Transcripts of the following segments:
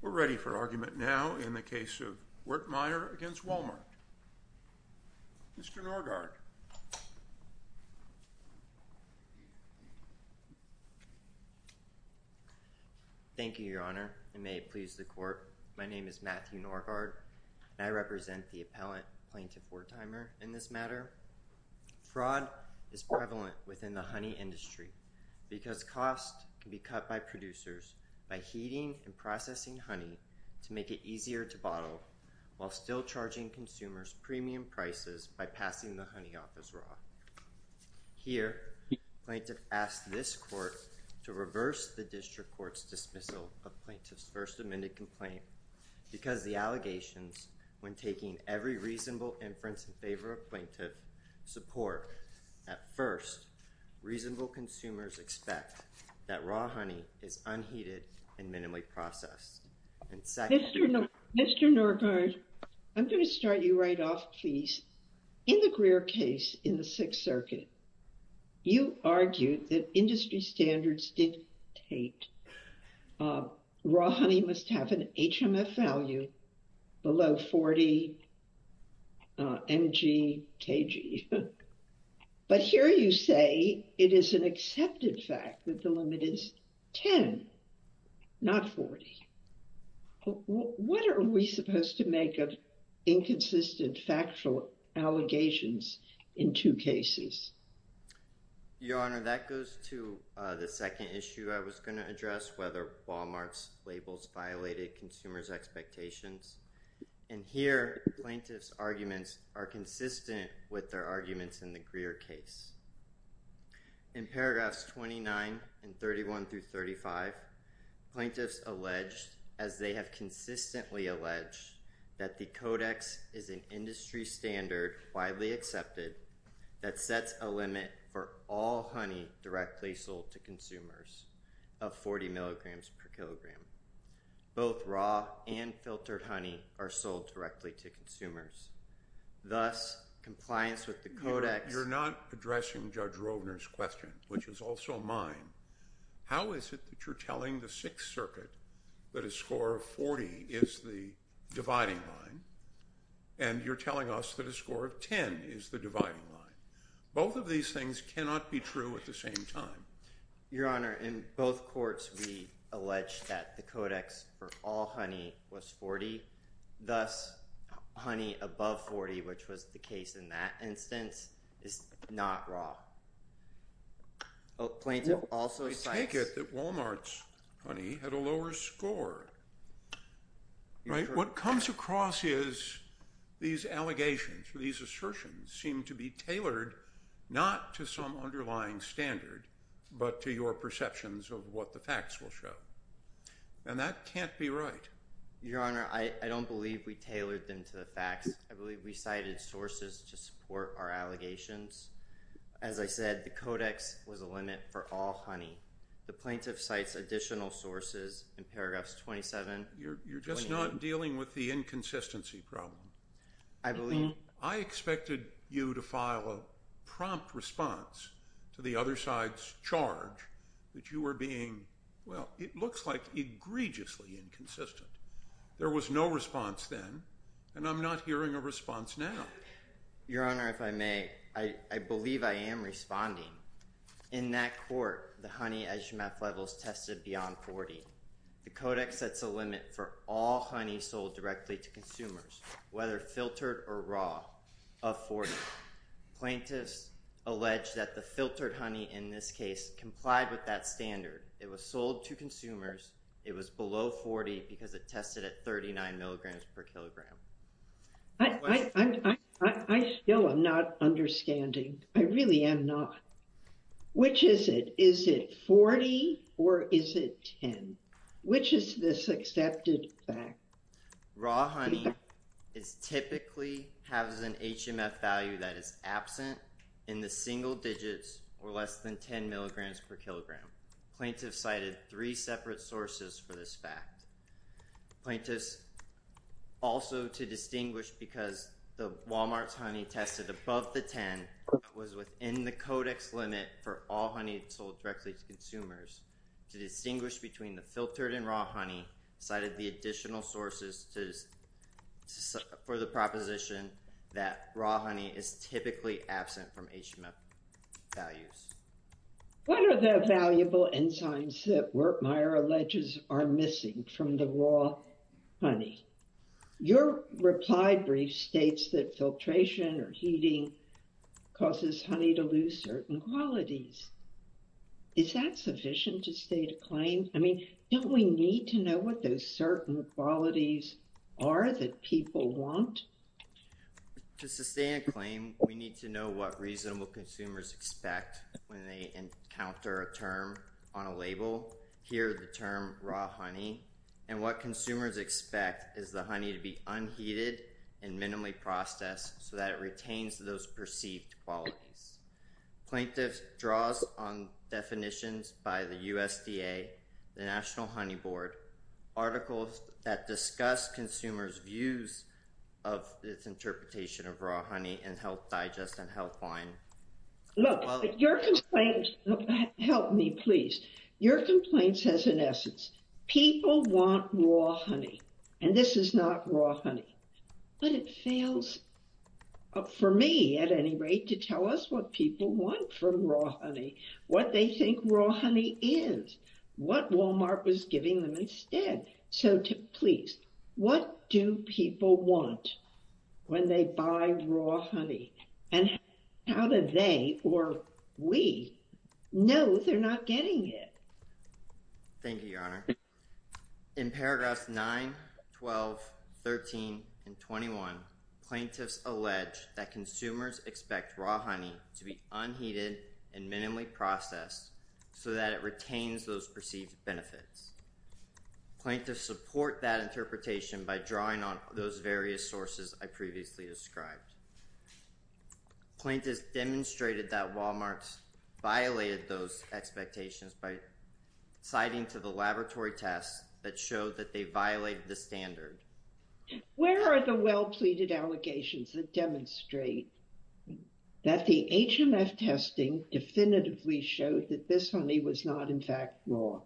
We're ready for argument now in the case of Wertmeyer v. Walmart. Mr. Norgaard. Thank you, Your Honor. And may it please the Court, my name is Matthew Norgaard and I represent the appellant, Plaintiff Wertymer, in this matter. Here, fraud is prevalent within the honey industry because costs can be cut by producers by heating and processing honey to make it easier to bottle while still charging consumers premium prices by passing the honey off as raw. Here, Plaintiff asks this Court to reverse the District Court's dismissal of Plaintiff's first amended complaint because the allegations, when taking every reasonable inference in favor of Plaintiff's support, at first, reasonable consumers expect that raw honey is unheated and minimally processed. Mr. Norgaard, I'm going to start you right off, please. In the Greer case in the Sixth Circuit, you argued that industry standards dictate raw honey must have an HMF value below 40 mg kg. But here you say it is an accepted fact that the limit is 10, not 40. What are we supposed to make of inconsistent factual allegations in two cases? Your Honor, that goes to the second issue I was going to address, whether Wal-Mart's labels violated consumers' expectations. And here, Plaintiff's arguments are consistent with their arguments in the Greer case. In paragraphs 29 and 31 through 35, Plaintiff's alleged, as they have consistently alleged, that the Codex is an industry standard, widely accepted, that sets a limit for all honey directly sold to consumers of 40 mg per kg. Both raw and filtered honey are sold directly to consumers. Thus, compliance with the Codex— You're not addressing Judge Rovner's question, which is also mine. How is it that you're telling the Sixth Circuit that a score of 40 is the dividing line, and you're telling us that a score of 10 is the dividing line? Both of these things cannot be true at the same time. Your Honor, in both courts, we allege that the Codex for all honey was 40. Thus, honey above 40, which was the case in that instance, is not raw. Plaintiff also cites— I take it that Walmart's honey had a lower score, right? What comes across is these allegations or these assertions seem to be tailored not to some underlying standard, but to your perceptions of what the facts will show. And that can't be right. Your Honor, I don't believe we tailored them to the facts. I believe we cited sources to support our allegations. As I said, the Codex was a limit for all honey. The plaintiff cites additional sources in paragraphs 27, 28— You're just not dealing with the inconsistency problem. I believe— I expected you to file a prompt response to the other side's charge that you were being, well, it looks like egregiously inconsistent. There was no response then, and I'm not hearing a response now. Your Honor, if I may, I believe I am responding. In that court, the honey azimuth levels tested beyond 40. The Codex sets a limit for all honey sold directly to consumers, whether filtered or raw, of 40. Plaintiffs allege that the filtered honey in this case complied with that standard. It was sold to consumers. It was below 40 because it tested at 39 milligrams per kilogram. I still am not understanding. I really am not. Which is it? Is it 40 or is it 10? Which is this accepted fact? Raw honey typically has an HMF value that is absent in the single digits or less than 10 milligrams per kilogram. Plaintiffs cited three separate sources for this fact. Plaintiffs, also to distinguish because the Walmart's honey tested above the 10 was within the Codex limit for all honey sold directly to consumers, to distinguish between the filtered and raw honey, cited the additional sources for the proposition that raw honey is typically absent from HMF values. What are the valuable enzymes that Wertmeier alleges are missing from the raw honey? Your reply brief states that filtration or heating causes honey to lose certain qualities. Is that sufficient to state a claim? I mean, don't we need to know what those certain qualities are that people want? To sustain a claim, we need to know what reasonable consumers expect when they encounter a term on a label, here the term raw honey, and what consumers expect is the honey to be unheated and minimally processed so that it retains those perceived qualities. Plaintiffs draws on definitions by the USDA, the National Honey Board, articles that discuss consumers' views of its interpretation of raw honey and health digest and health wine. Look, your complaint, help me please, your complaint says in essence, people want raw honey and this is not raw honey, but it fails for me at any rate to tell us what people want from raw honey, what they think raw honey is, what Walmart was giving them instead. So, please, what do people want when they buy raw honey and how do they or we know they're not getting it? Thank you, Your Honor. In paragraphs 9, 12, 13, and 21, plaintiffs allege that consumers expect raw honey to be unheated and minimally processed so that it retains those perceived benefits. Plaintiffs support that interpretation by drawing on those various sources I previously described. Plaintiffs demonstrated that Walmart violated those expectations by citing to the laboratory tests that showed that they violated the standard. Where are the well-pleaded allegations that demonstrate that the HMF testing definitively showed that this honey was not in fact raw?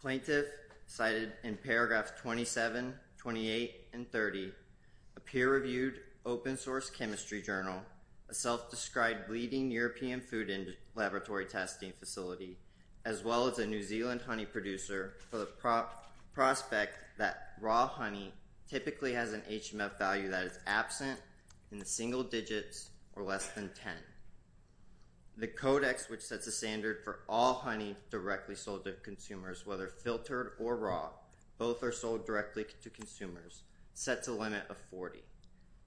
Plaintiff cited in paragraphs 27, 28, and 30, a peer-reviewed open source chemistry journal, a self-described leading European food and laboratory testing facility, as well as a New Zealand honey producer for the prospect that raw honey typically has an HMF value that is absent in the single digits or less than 10. The codex, which sets a standard for all honey directly sold to consumers, whether filtered or raw, both are sold directly to consumers, sets a limit of 40.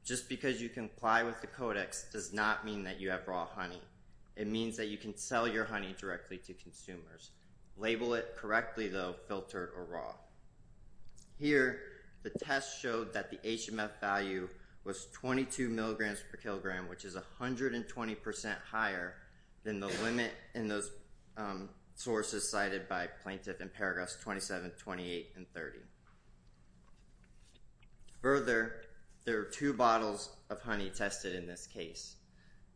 Just because you comply with the codex does not mean that you have raw honey. It means that you can sell your honey directly to consumers. Label it correctly, though, filtered or raw. Here, the test showed that the HMF value was 22 milligrams per kilogram, which is 124 milligrams higher than the limit in those sources cited by plaintiff in paragraphs 27, 28, and 30. Further, there are two bottles of honey tested in this case.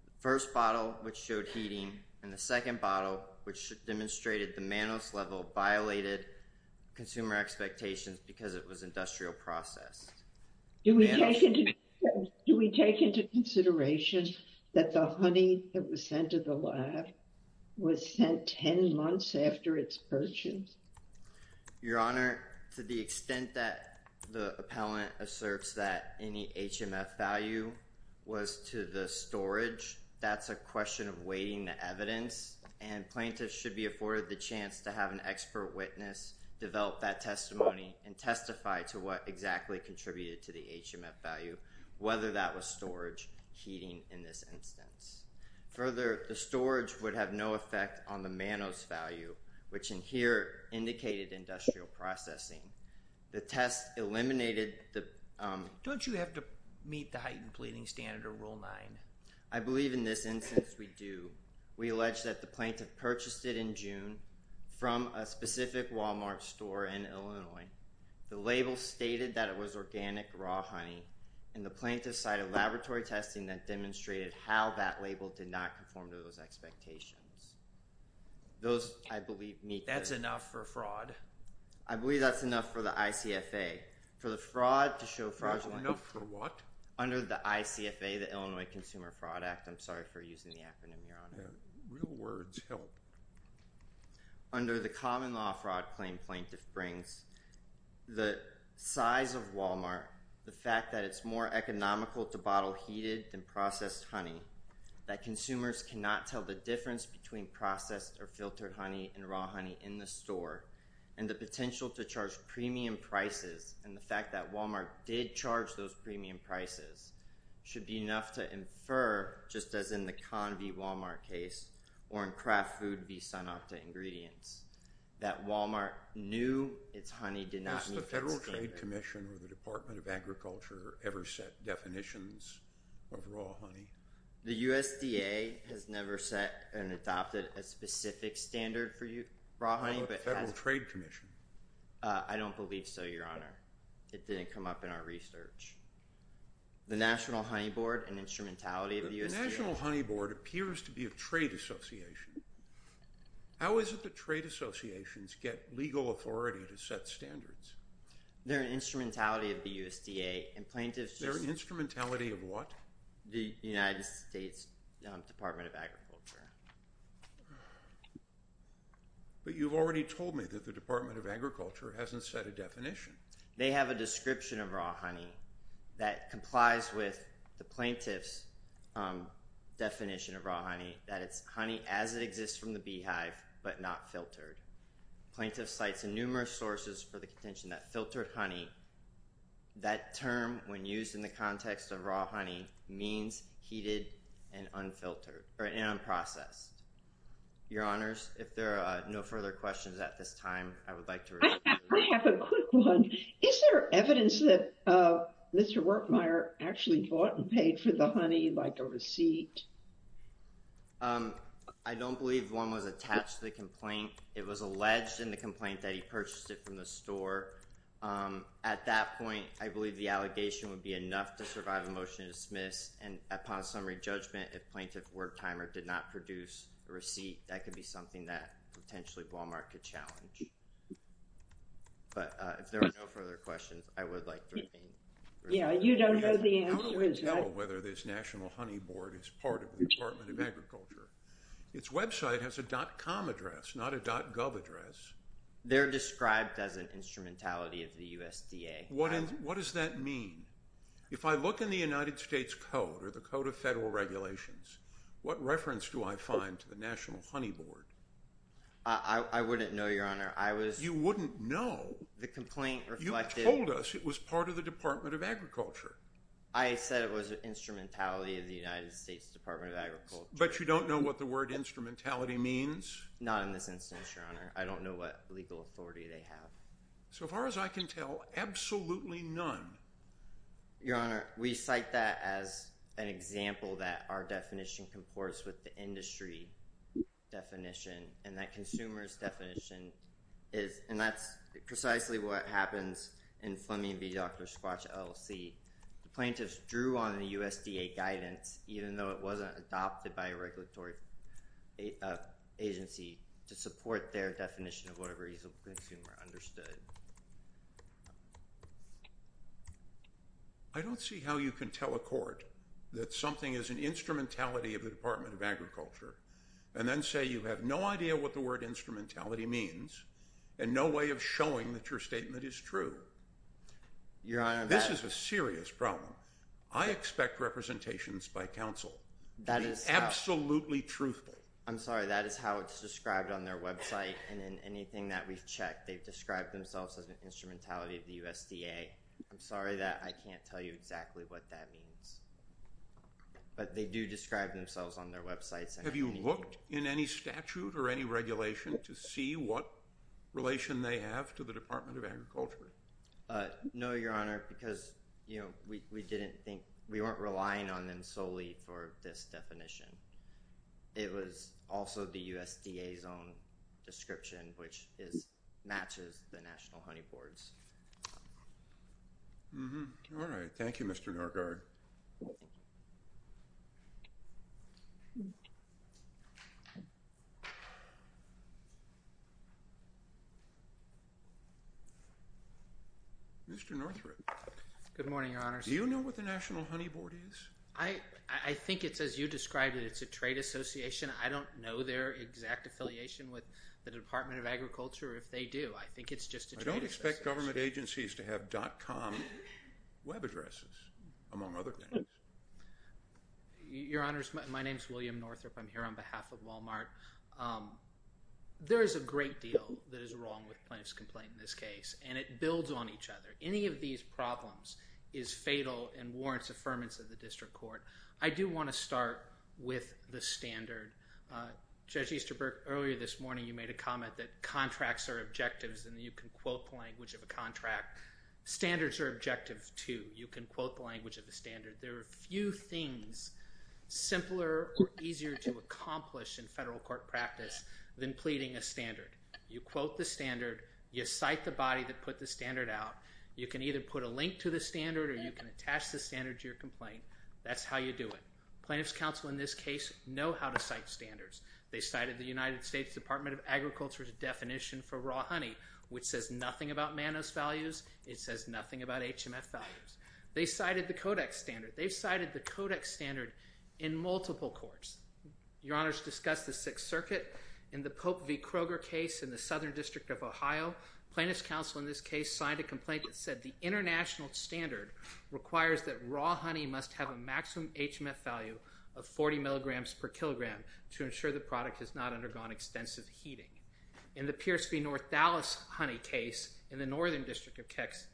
The first bottle, which showed heating, and the second bottle, which demonstrated the mannose level, violated consumer expectations because it was industrial processed. Do we take into consideration that the honey that was sent to the lab was sent 10 months after its purchase? Your Honor, to the extent that the appellant asserts that any HMF value was to the storage, that's a question of weighting the evidence, and plaintiffs should be afforded the chance to have an expert witness develop that testimony and testify to what exactly contributed to the HMF value, whether that was storage, heating, in this instance. Further, the storage would have no effect on the mannose value, which in here indicated industrial processing. The test eliminated the— Don't you have to meet the heightened pleading standard of Rule 9? I believe in this instance we do. We allege that the plaintiff purchased it in June from a specific Walmart store in Illinois. The label stated that it was organic raw honey, and the plaintiff cited laboratory testing that demonstrated how that label did not conform to those expectations. Those, I believe, meet— That's enough for fraud. I believe that's enough for the ICFA. For the fraud to show fraudulent— Enough for what? Under the ICFA, the Illinois Consumer Fraud Act. I'm sorry for using the acronym, Your Honor. Real words help. Under the Common Law Fraud Claim, plaintiff brings the size of Walmart, the fact that it's more economical to bottle heated than processed honey, that consumers cannot tell the difference between processed or filtered honey and raw honey in the store, and the potential to charge premium prices, and the fact that Walmart did charge those premium prices, should be enough to infer, just as in the Convy-Walmart case, or in Kraft Food v. Sun-Octa ingredients, that Walmart knew its honey did not meet that standard. Has the Federal Trade Commission or the Department of Agriculture ever set definitions of raw honey? The USDA has never set and adopted a specific standard for raw honey, but has— On the Federal Trade Commission. I don't believe so, Your Honor. It didn't come up in our research. The National Honey Board, an instrumentality of the USDA— The National Honey Board appears to be a trade association. How is it that trade associations get legal authority to set standards? They're an instrumentality of the USDA, and plaintiffs— They're an instrumentality of what? The United States Department of Agriculture. But you've already told me that the Department of Agriculture hasn't set a definition. They have a description of raw honey that complies with the plaintiff's definition of raw honey, that it's honey as it exists from the beehive, but not filtered. Plaintiff cites numerous sources for the contention that filtered honey, that term, when used in the context of raw honey, means heated and unfiltered, or unprocessed. Your Honors, if there are no further questions at this time, I would like to— I have a quick one. Is there evidence that Mr. Wertmeier actually bought and paid for the honey, like a receipt? I don't believe one was attached to the complaint. It was alleged in the complaint that he purchased it from the store. At that point, I believe the allegation would be enough to survive a motion to dismiss, and upon summary judgment, if Plaintiff Wertmeier did not produce a receipt, that could be something that potentially Walmart could challenge. But if there are no further questions, I would like to remain— Yeah, you don't know the answer. How do we tell whether this National Honey Board is part of the Department of Agriculture? Its website has a dot-com address, not a dot-gov address. They're described as an instrumentality of the USDA. What does that mean? If I look in the United States Code or the Code of Federal Regulations, what reference do I find to the National Honey Board? I wouldn't know, Your Honor. I was— You wouldn't know? The complaint reflected— You told us it was part of the Department of Agriculture. I said it was an instrumentality of the United States Department of Agriculture. But you don't know what the word instrumentality means? Not in this instance, Your Honor. I don't know what legal authority they have. So far as I can tell, absolutely none. Your Honor, we cite that as an example that our definition comports with the industry definition and that consumers' definition is— and that's precisely what happens in Fleming v. Dr. Squatch LLC. The plaintiffs drew on the USDA guidance, even though it wasn't adopted by a regulatory agency, to support their definition of what a reasonable consumer understood. I don't see how you can tell a court that something is an instrumentality of the Department of Agriculture and then say you have no idea what the word instrumentality means and no way of showing that your statement is true. Your Honor— This is a serious problem. I expect representations by counsel to be absolutely truthful. I'm sorry. That is how it's described on their website. And in anything that we've checked, they've described themselves as an instrumentality of the USDA. I'm sorry that I can't tell you exactly what that means. But they do describe themselves on their websites. Have you looked in any statute or any regulation to see what relation they have to the Department of Agriculture? No, Your Honor, because, you know, we didn't think— we weren't relying on them solely for this definition. It was also the USDA's own description, which is—matches the national honey boards. All right. Thank you, Mr. Norgard. Mr. Northrup. Good morning, Your Honor. Do you know what the National Honey Board is? I think it's as you described it. It's a trade association. I don't know their exact affiliation with the Department of Agriculture. If they do, I think it's just a trade association. I don't expect government agencies to have dot com web addresses, among other things. Your Honors, my name is William Northrup. I'm here on behalf of Walmart. There is a great deal that is wrong with plaintiff's complaint in this case, and it builds on each other. Any of these problems is fatal and warrants affirmance of the district court. I do want to start with the standard. Judge Easterberg, earlier this morning, you made a comment that contracts are objectives and you can quote the language of a contract. Standards are objectives, too. You can quote the language of the standard. There are few things simpler or easier to accomplish in federal court practice than pleading a standard. You quote the standard. You cite the body that put the standard out. You can either put a link to the standard or you can attach the standard to your complaint. That's how you do it. Plaintiff's counsel in this case know how to cite standards. They cited the United States Department of Agriculture's definition for raw honey, which says nothing about Mannose values. It says nothing about HMF values. They cited the Codex standard. They've cited the Codex standard in multiple courts. Your Honor's discussed the Sixth Circuit. In the Pope v. Kroger case in the Southern District of Ohio, plaintiff's counsel in this case signed a complaint that said the international standard requires that raw honey must have a maximum HMF value of 40 milligrams per kilogram to ensure the product has not undergone extensive heating. In the Pierce v. North Dallas honey case in the Northern District of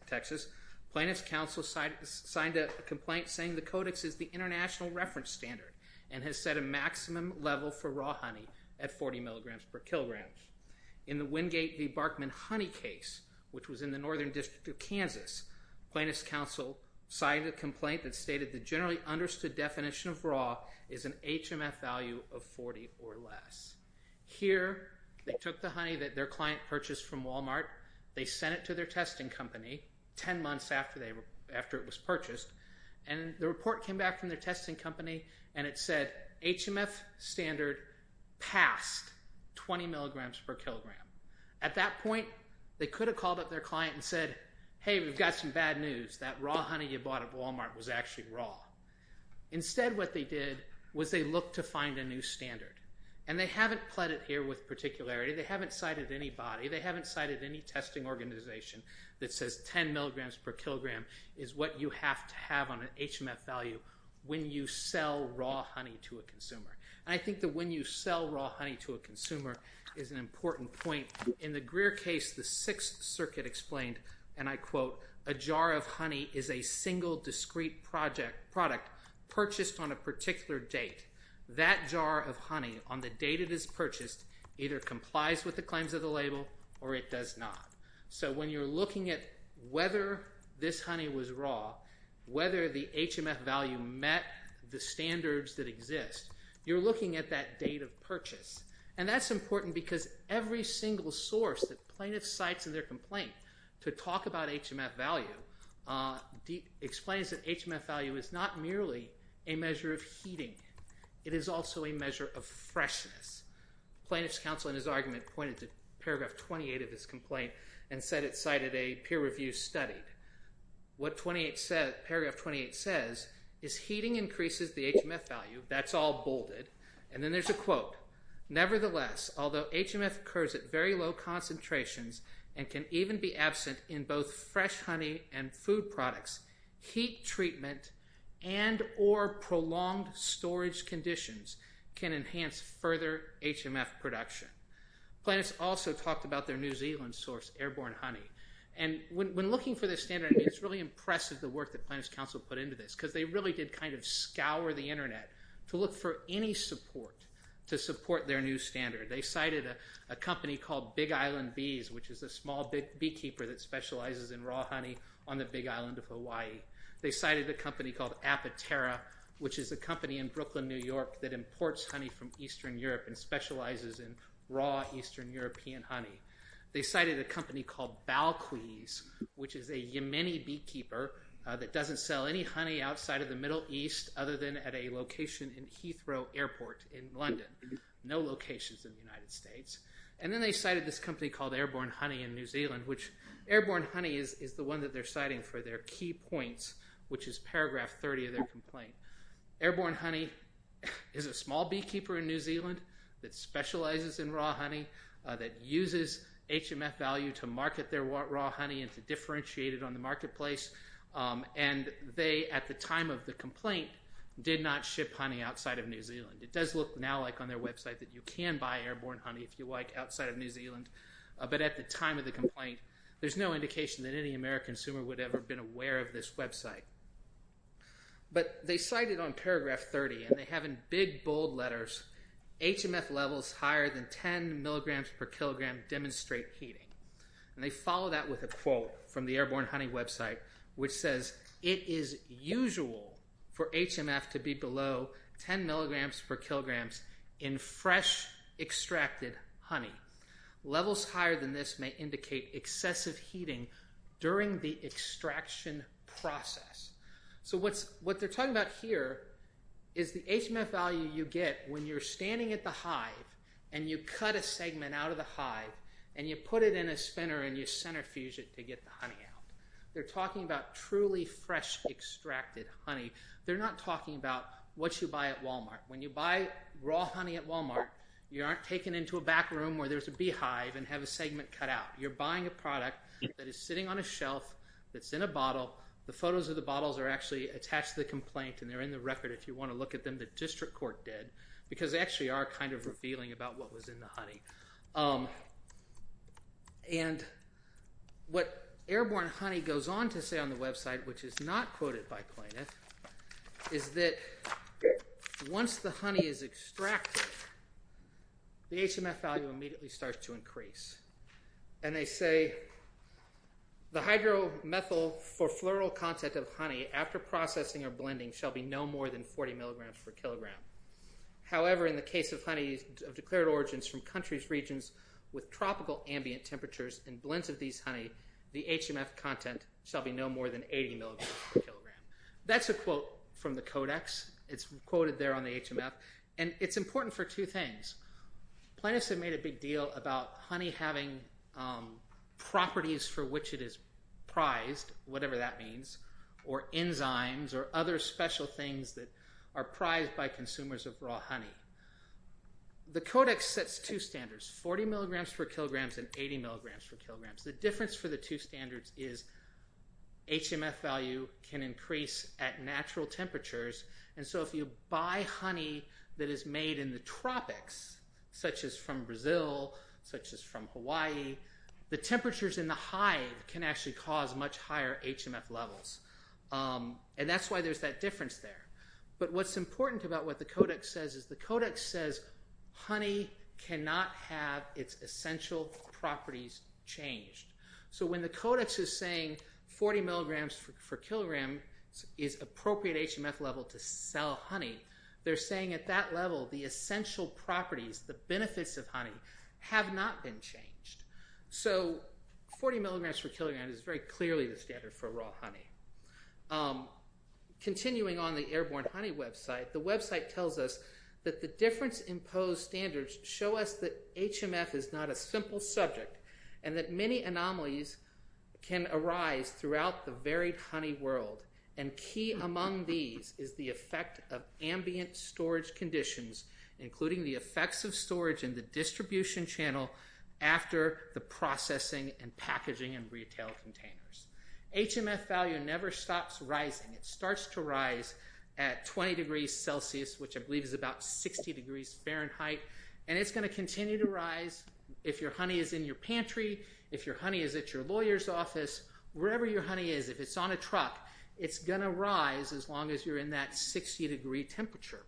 Texas, plaintiff's counsel signed a complaint saying the Codex is the international reference standard and has set a maximum level for raw honey at 40 milligrams per kilogram. In the Wingate v. Barkman honey case, which was in the Northern District of Kansas, plaintiff's counsel signed a complaint that stated the generally understood definition of raw is an HMF value of 40 or less. Here, they took the honey that their client purchased from Walmart. They sent it to their testing company, 10 months after it was purchased, and the report came back from their testing company, and it said HMF standard passed 20 milligrams per kilogram. At that point, they could have called up their client and said, hey, we've got some bad news. That raw honey you bought at Walmart was actually raw. Instead, what they did was they looked to find a new standard, and they haven't pled it here with particularity. They haven't cited anybody. They haven't cited any testing organization that says 10 milligrams per kilogram is what you have to have on an HMF value when you sell raw honey to a consumer. I think that when you sell raw honey to a consumer is an important point. In the Greer case, the Sixth Circuit explained, and I quote, a jar of honey is a single discrete product purchased on a particular date. That jar of honey, on the date it is purchased, either complies with the claims of the label or it does not. So when you're looking at whether this honey was raw, whether the HMF value met the standards that exist, you're looking at that date of purchase. And that's important because every single source that plaintiff cites in their complaint to talk about HMF value explains that HMF value is not merely a measure of heating. It is also a measure of freshness. Plaintiff's counsel in his argument pointed to paragraph 28 of his complaint and said it cited a peer review studied. What paragraph 28 says is heating increases the HMF value. That's all bolded. And then there's a quote. Nevertheless, although HMF occurs at very low concentrations and can even be absent in both fresh honey and food products, heat treatment and or prolonged storage conditions can enhance further HMF production. Plaintiff's also talked about their New Zealand source, airborne honey. And when looking for this standard, it's really impressive the work that plaintiff's counsel put into this because they really did kind of scour the internet to look for any support to support their new standard. They cited a company called Big Island Bees, which is a small beekeeper that specializes in raw honey on the Big Island of Hawaii. They cited a company called Apaterra, which is a company in Brooklyn, New York, that imports honey from Eastern Europe and specializes in raw Eastern European honey. They cited a company called Balquise, which is a Yemeni beekeeper that doesn't sell any honey outside of the Middle East other than at a location in Heathrow Airport in London. No locations in the United States. And then they cited this company called Airborne Honey in New Zealand, which Airborne Honey is the one that they're citing for their key points, which is paragraph 30 of their complaint. Airborne Honey is a small beekeeper in New Zealand that specializes in raw honey, that uses HMF value to market their raw honey and to differentiate it on the marketplace. And they, at the time of the complaint, did not ship honey outside of New Zealand. It does look now like on their website that you can buy Airborne Honey, if you like, outside of New Zealand. But at the time of the complaint, there's no indication that any American consumer would ever have been aware of this website. But they cited on paragraph 30, and they have in big, bold letters, HMF levels higher than 10 milligrams per kilogram demonstrate heating. And they follow that with a quote from the Airborne Honey website, which says, it is usual for HMF to be below 10 milligrams per kilograms in fresh extracted honey. Levels higher than this may indicate excessive heating during the extraction process. So what they're talking about here is the HMF value you get when you're standing at the hive and you cut a segment out of the hive and you put it in a spinner and you centrifuge it to get the honey out. They're talking about truly fresh extracted honey. They're not talking about what you buy at Walmart. When you buy raw honey at Walmart, you aren't taken into a back room where there's a beehive and have a segment cut out. You're buying a product that is sitting on a shelf, that's in a bottle. The photos of the bottles are actually attached to the complaint and they're in the record. If you want to look at them, the district court did because they actually are kind of revealing about what was in the honey. And what Airborne Honey goes on to say on the website, which is not quoted by plaintiff, is that once the honey is extracted, the HMF value immediately starts to increase. And they say, the hydromethyl for floral content of honey after processing or blending shall be no more than 40 milligrams per kilogram. However, in the case of honey of declared origins from countries regions with tropical ambient temperatures and blends of these honey, the HMF content shall be no more than 80 milligrams per kilogram. That's a quote from the codex. It's quoted there on the HMF. And it's important for two things. Plaintiffs have made a big deal about honey having properties for which it is prized, whatever that means, or enzymes or other special things that are prized by consumers of raw honey. The codex sets two standards, 40 milligrams per kilograms and 80 milligrams per kilograms. The difference for the two standards is HMF value can increase at natural temperatures. And so if you buy honey that is made in the tropics, such as from Brazil, such as from Hawaii, the temperatures in the hive can actually cause much higher HMF levels. And that's why there's that difference there. But what's important about what the codex says is the codex says, honey cannot have its essential properties changed. So when the codex is saying 40 milligrams per kilogram is appropriate HMF level to sell honey, they're saying at that level, the essential properties, the benefits of honey have not been changed. So 40 milligrams per kilogram is very clearly the standard for raw honey. Continuing on the Airborne Honey website, the website tells us that the difference imposed standards show us that HMF is not a simple subject and that many anomalies can arise throughout the varied honey world. And key among these is the effect of ambient storage conditions, including the effects of storage in the distribution channel after the processing and packaging and retail containers. HMF value never stops rising. It starts to rise at 20 degrees Celsius, which I believe is about 60 degrees Fahrenheit. And it's gonna continue to rise if your honey is in your pantry, if your honey is at your lawyer's office, wherever your honey is, if it's on a truck, it's gonna rise as long as you're in that 60 degree temperature.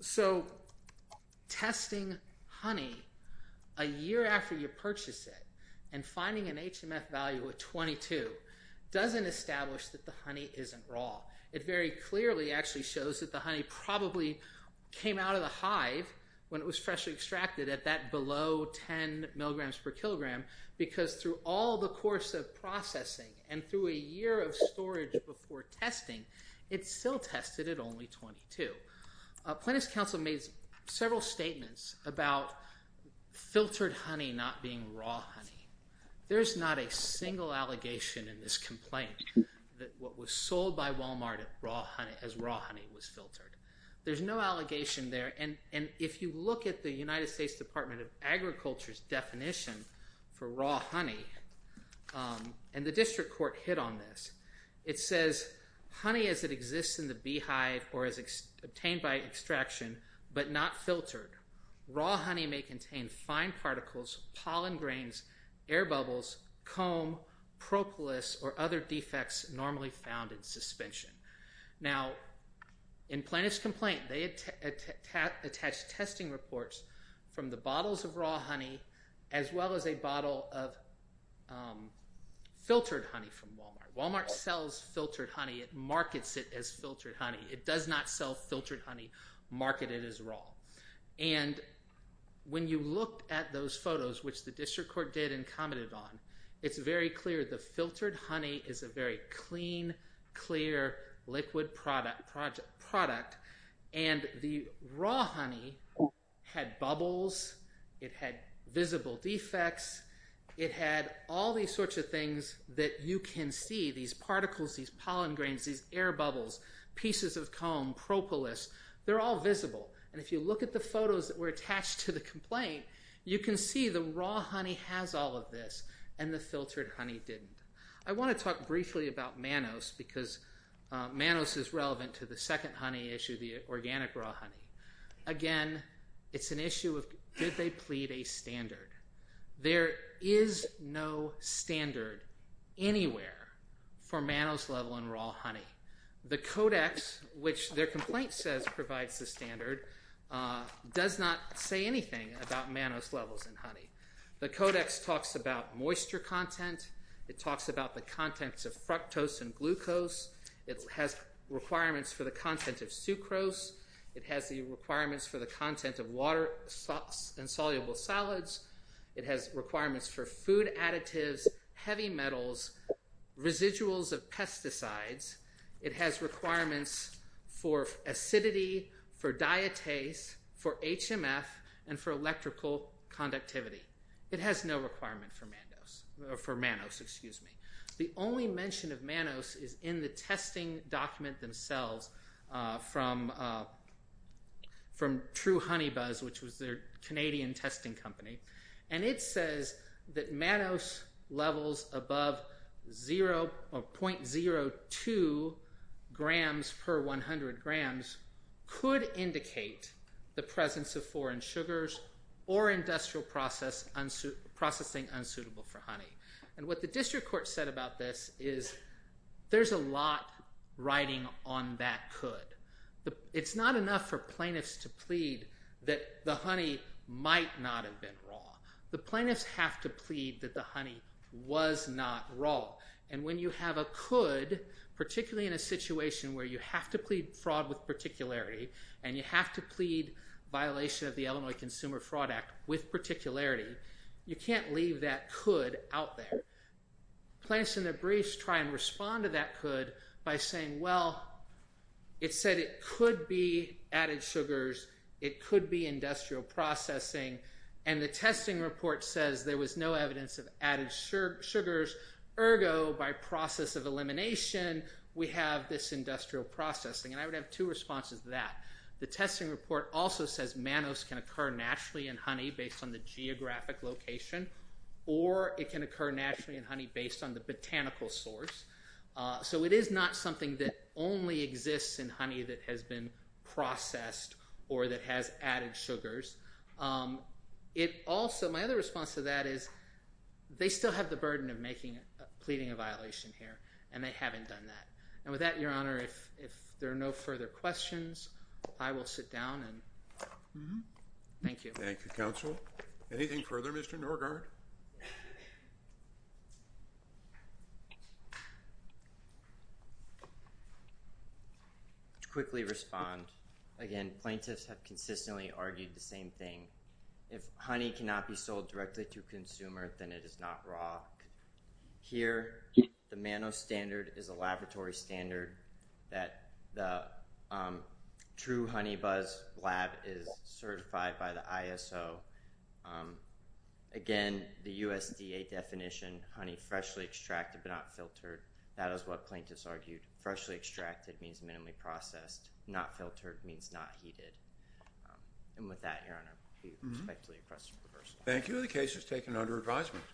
So testing honey a year after you purchase it and finding an HMF value of 22 doesn't establish that the honey isn't raw. It very clearly actually shows that the honey probably came out of the hive when it was freshly extracted at that below 10 milligrams per kilogram because through all the course of processing and through a year of storage before testing, it's still tested at only 22. Plannist Council made several statements about filtered honey not being raw honey. There's not a single allegation in this complaint that what was sold by Walmart as raw honey was filtered. There's no allegation there. And if you look at the United States Department of Agriculture's definition for raw honey and the district court hit on this, it says, honey as it exists in the beehive or as obtained by extraction, but not filtered. Raw honey may contain fine particles, pollen grains, air bubbles, comb, propolis, or other defects normally found in suspension. Now in Plannist's complaint, they attached testing reports from the bottles of raw honey as well as a bottle of filtered honey from Walmart. Walmart sells filtered honey. It markets it as filtered honey. It does not sell filtered honey marketed as raw. And when you look at those photos, which the district court did and commented on, it's very clear the filtered honey is a very clean, clear liquid product. And the raw honey had bubbles. It had visible defects. It had all these sorts of things that you can see, these particles, these pollen grains, these air bubbles, pieces of comb, propolis. They're all visible. And if you look at the photos that were attached to the complaint, you can see the raw honey has all of this and the filtered honey didn't. I want to talk briefly about mannose because mannose is relevant to the second honey issue, the organic raw honey. Again, it's an issue of did they plead a standard? There is no standard anywhere for mannose level in raw honey. The codex, which their complaint says provides the standard, does not say anything about mannose levels in honey. The codex talks about moisture content. It talks about the contents of fructose and glucose. It has requirements for the content of sucrose. It has the requirements for the content of water, insoluble solids. It has requirements for food additives, heavy metals, residuals of pesticides. It has requirements for acidity, for diatase, for HMF, and for electrical conductivity. It has no requirement for mannose. The only mention of mannose is in the testing document themselves from True Honey Buzz, which was their Canadian testing company. And it says that mannose levels above 0.02 grams per 100 grams could indicate the presence of foreign sugars or industrial processing unsuitable for honey. And what the district court said about this is there's a lot riding on that could. It's not enough for plaintiffs to plead that the honey might not have been raw. The plaintiffs have to plead that the honey was not raw. And when you have a could, particularly in a situation where you have to plead fraud with particularity and you have to plead violation of the Illinois Consumer Fraud Act with particularity, you can't leave that could out there. Plaintiffs in their briefs try and respond to that could by saying, well, it said it could be added sugars. It could be industrial processing. And the testing report says there was no evidence of added sugars. Ergo, by process of elimination, we have this industrial processing. And I would have two responses to that. The testing report also says mannose can occur naturally in honey based on the geographic location or it can occur naturally in honey based on the botanical source. So it is not something that only exists in honey that has been processed or that has added sugars. My other response to that is they still have the burden of pleading a violation here and they haven't done that. And with that, Your Honor, if there are no further questions, I will sit down and thank you. Thank you, counsel. Anything further, Mr. Norgaard? I'd like to quickly respond. Again, plaintiffs have consistently argued the same thing. If honey cannot be sold directly to a consumer, then it is not raw. Here, the mannose standard is a laboratory standard that the true HoneyBuzz lab is certified by the ISO. Again, the USDA definition, honey freshly extracted but not filtered, that is what plaintiffs argued. Freshly extracted means minimally processed. Not filtered means not heated. And with that, Your Honor, I respectfully request a reversal. Thank you. The case is taken under advisement.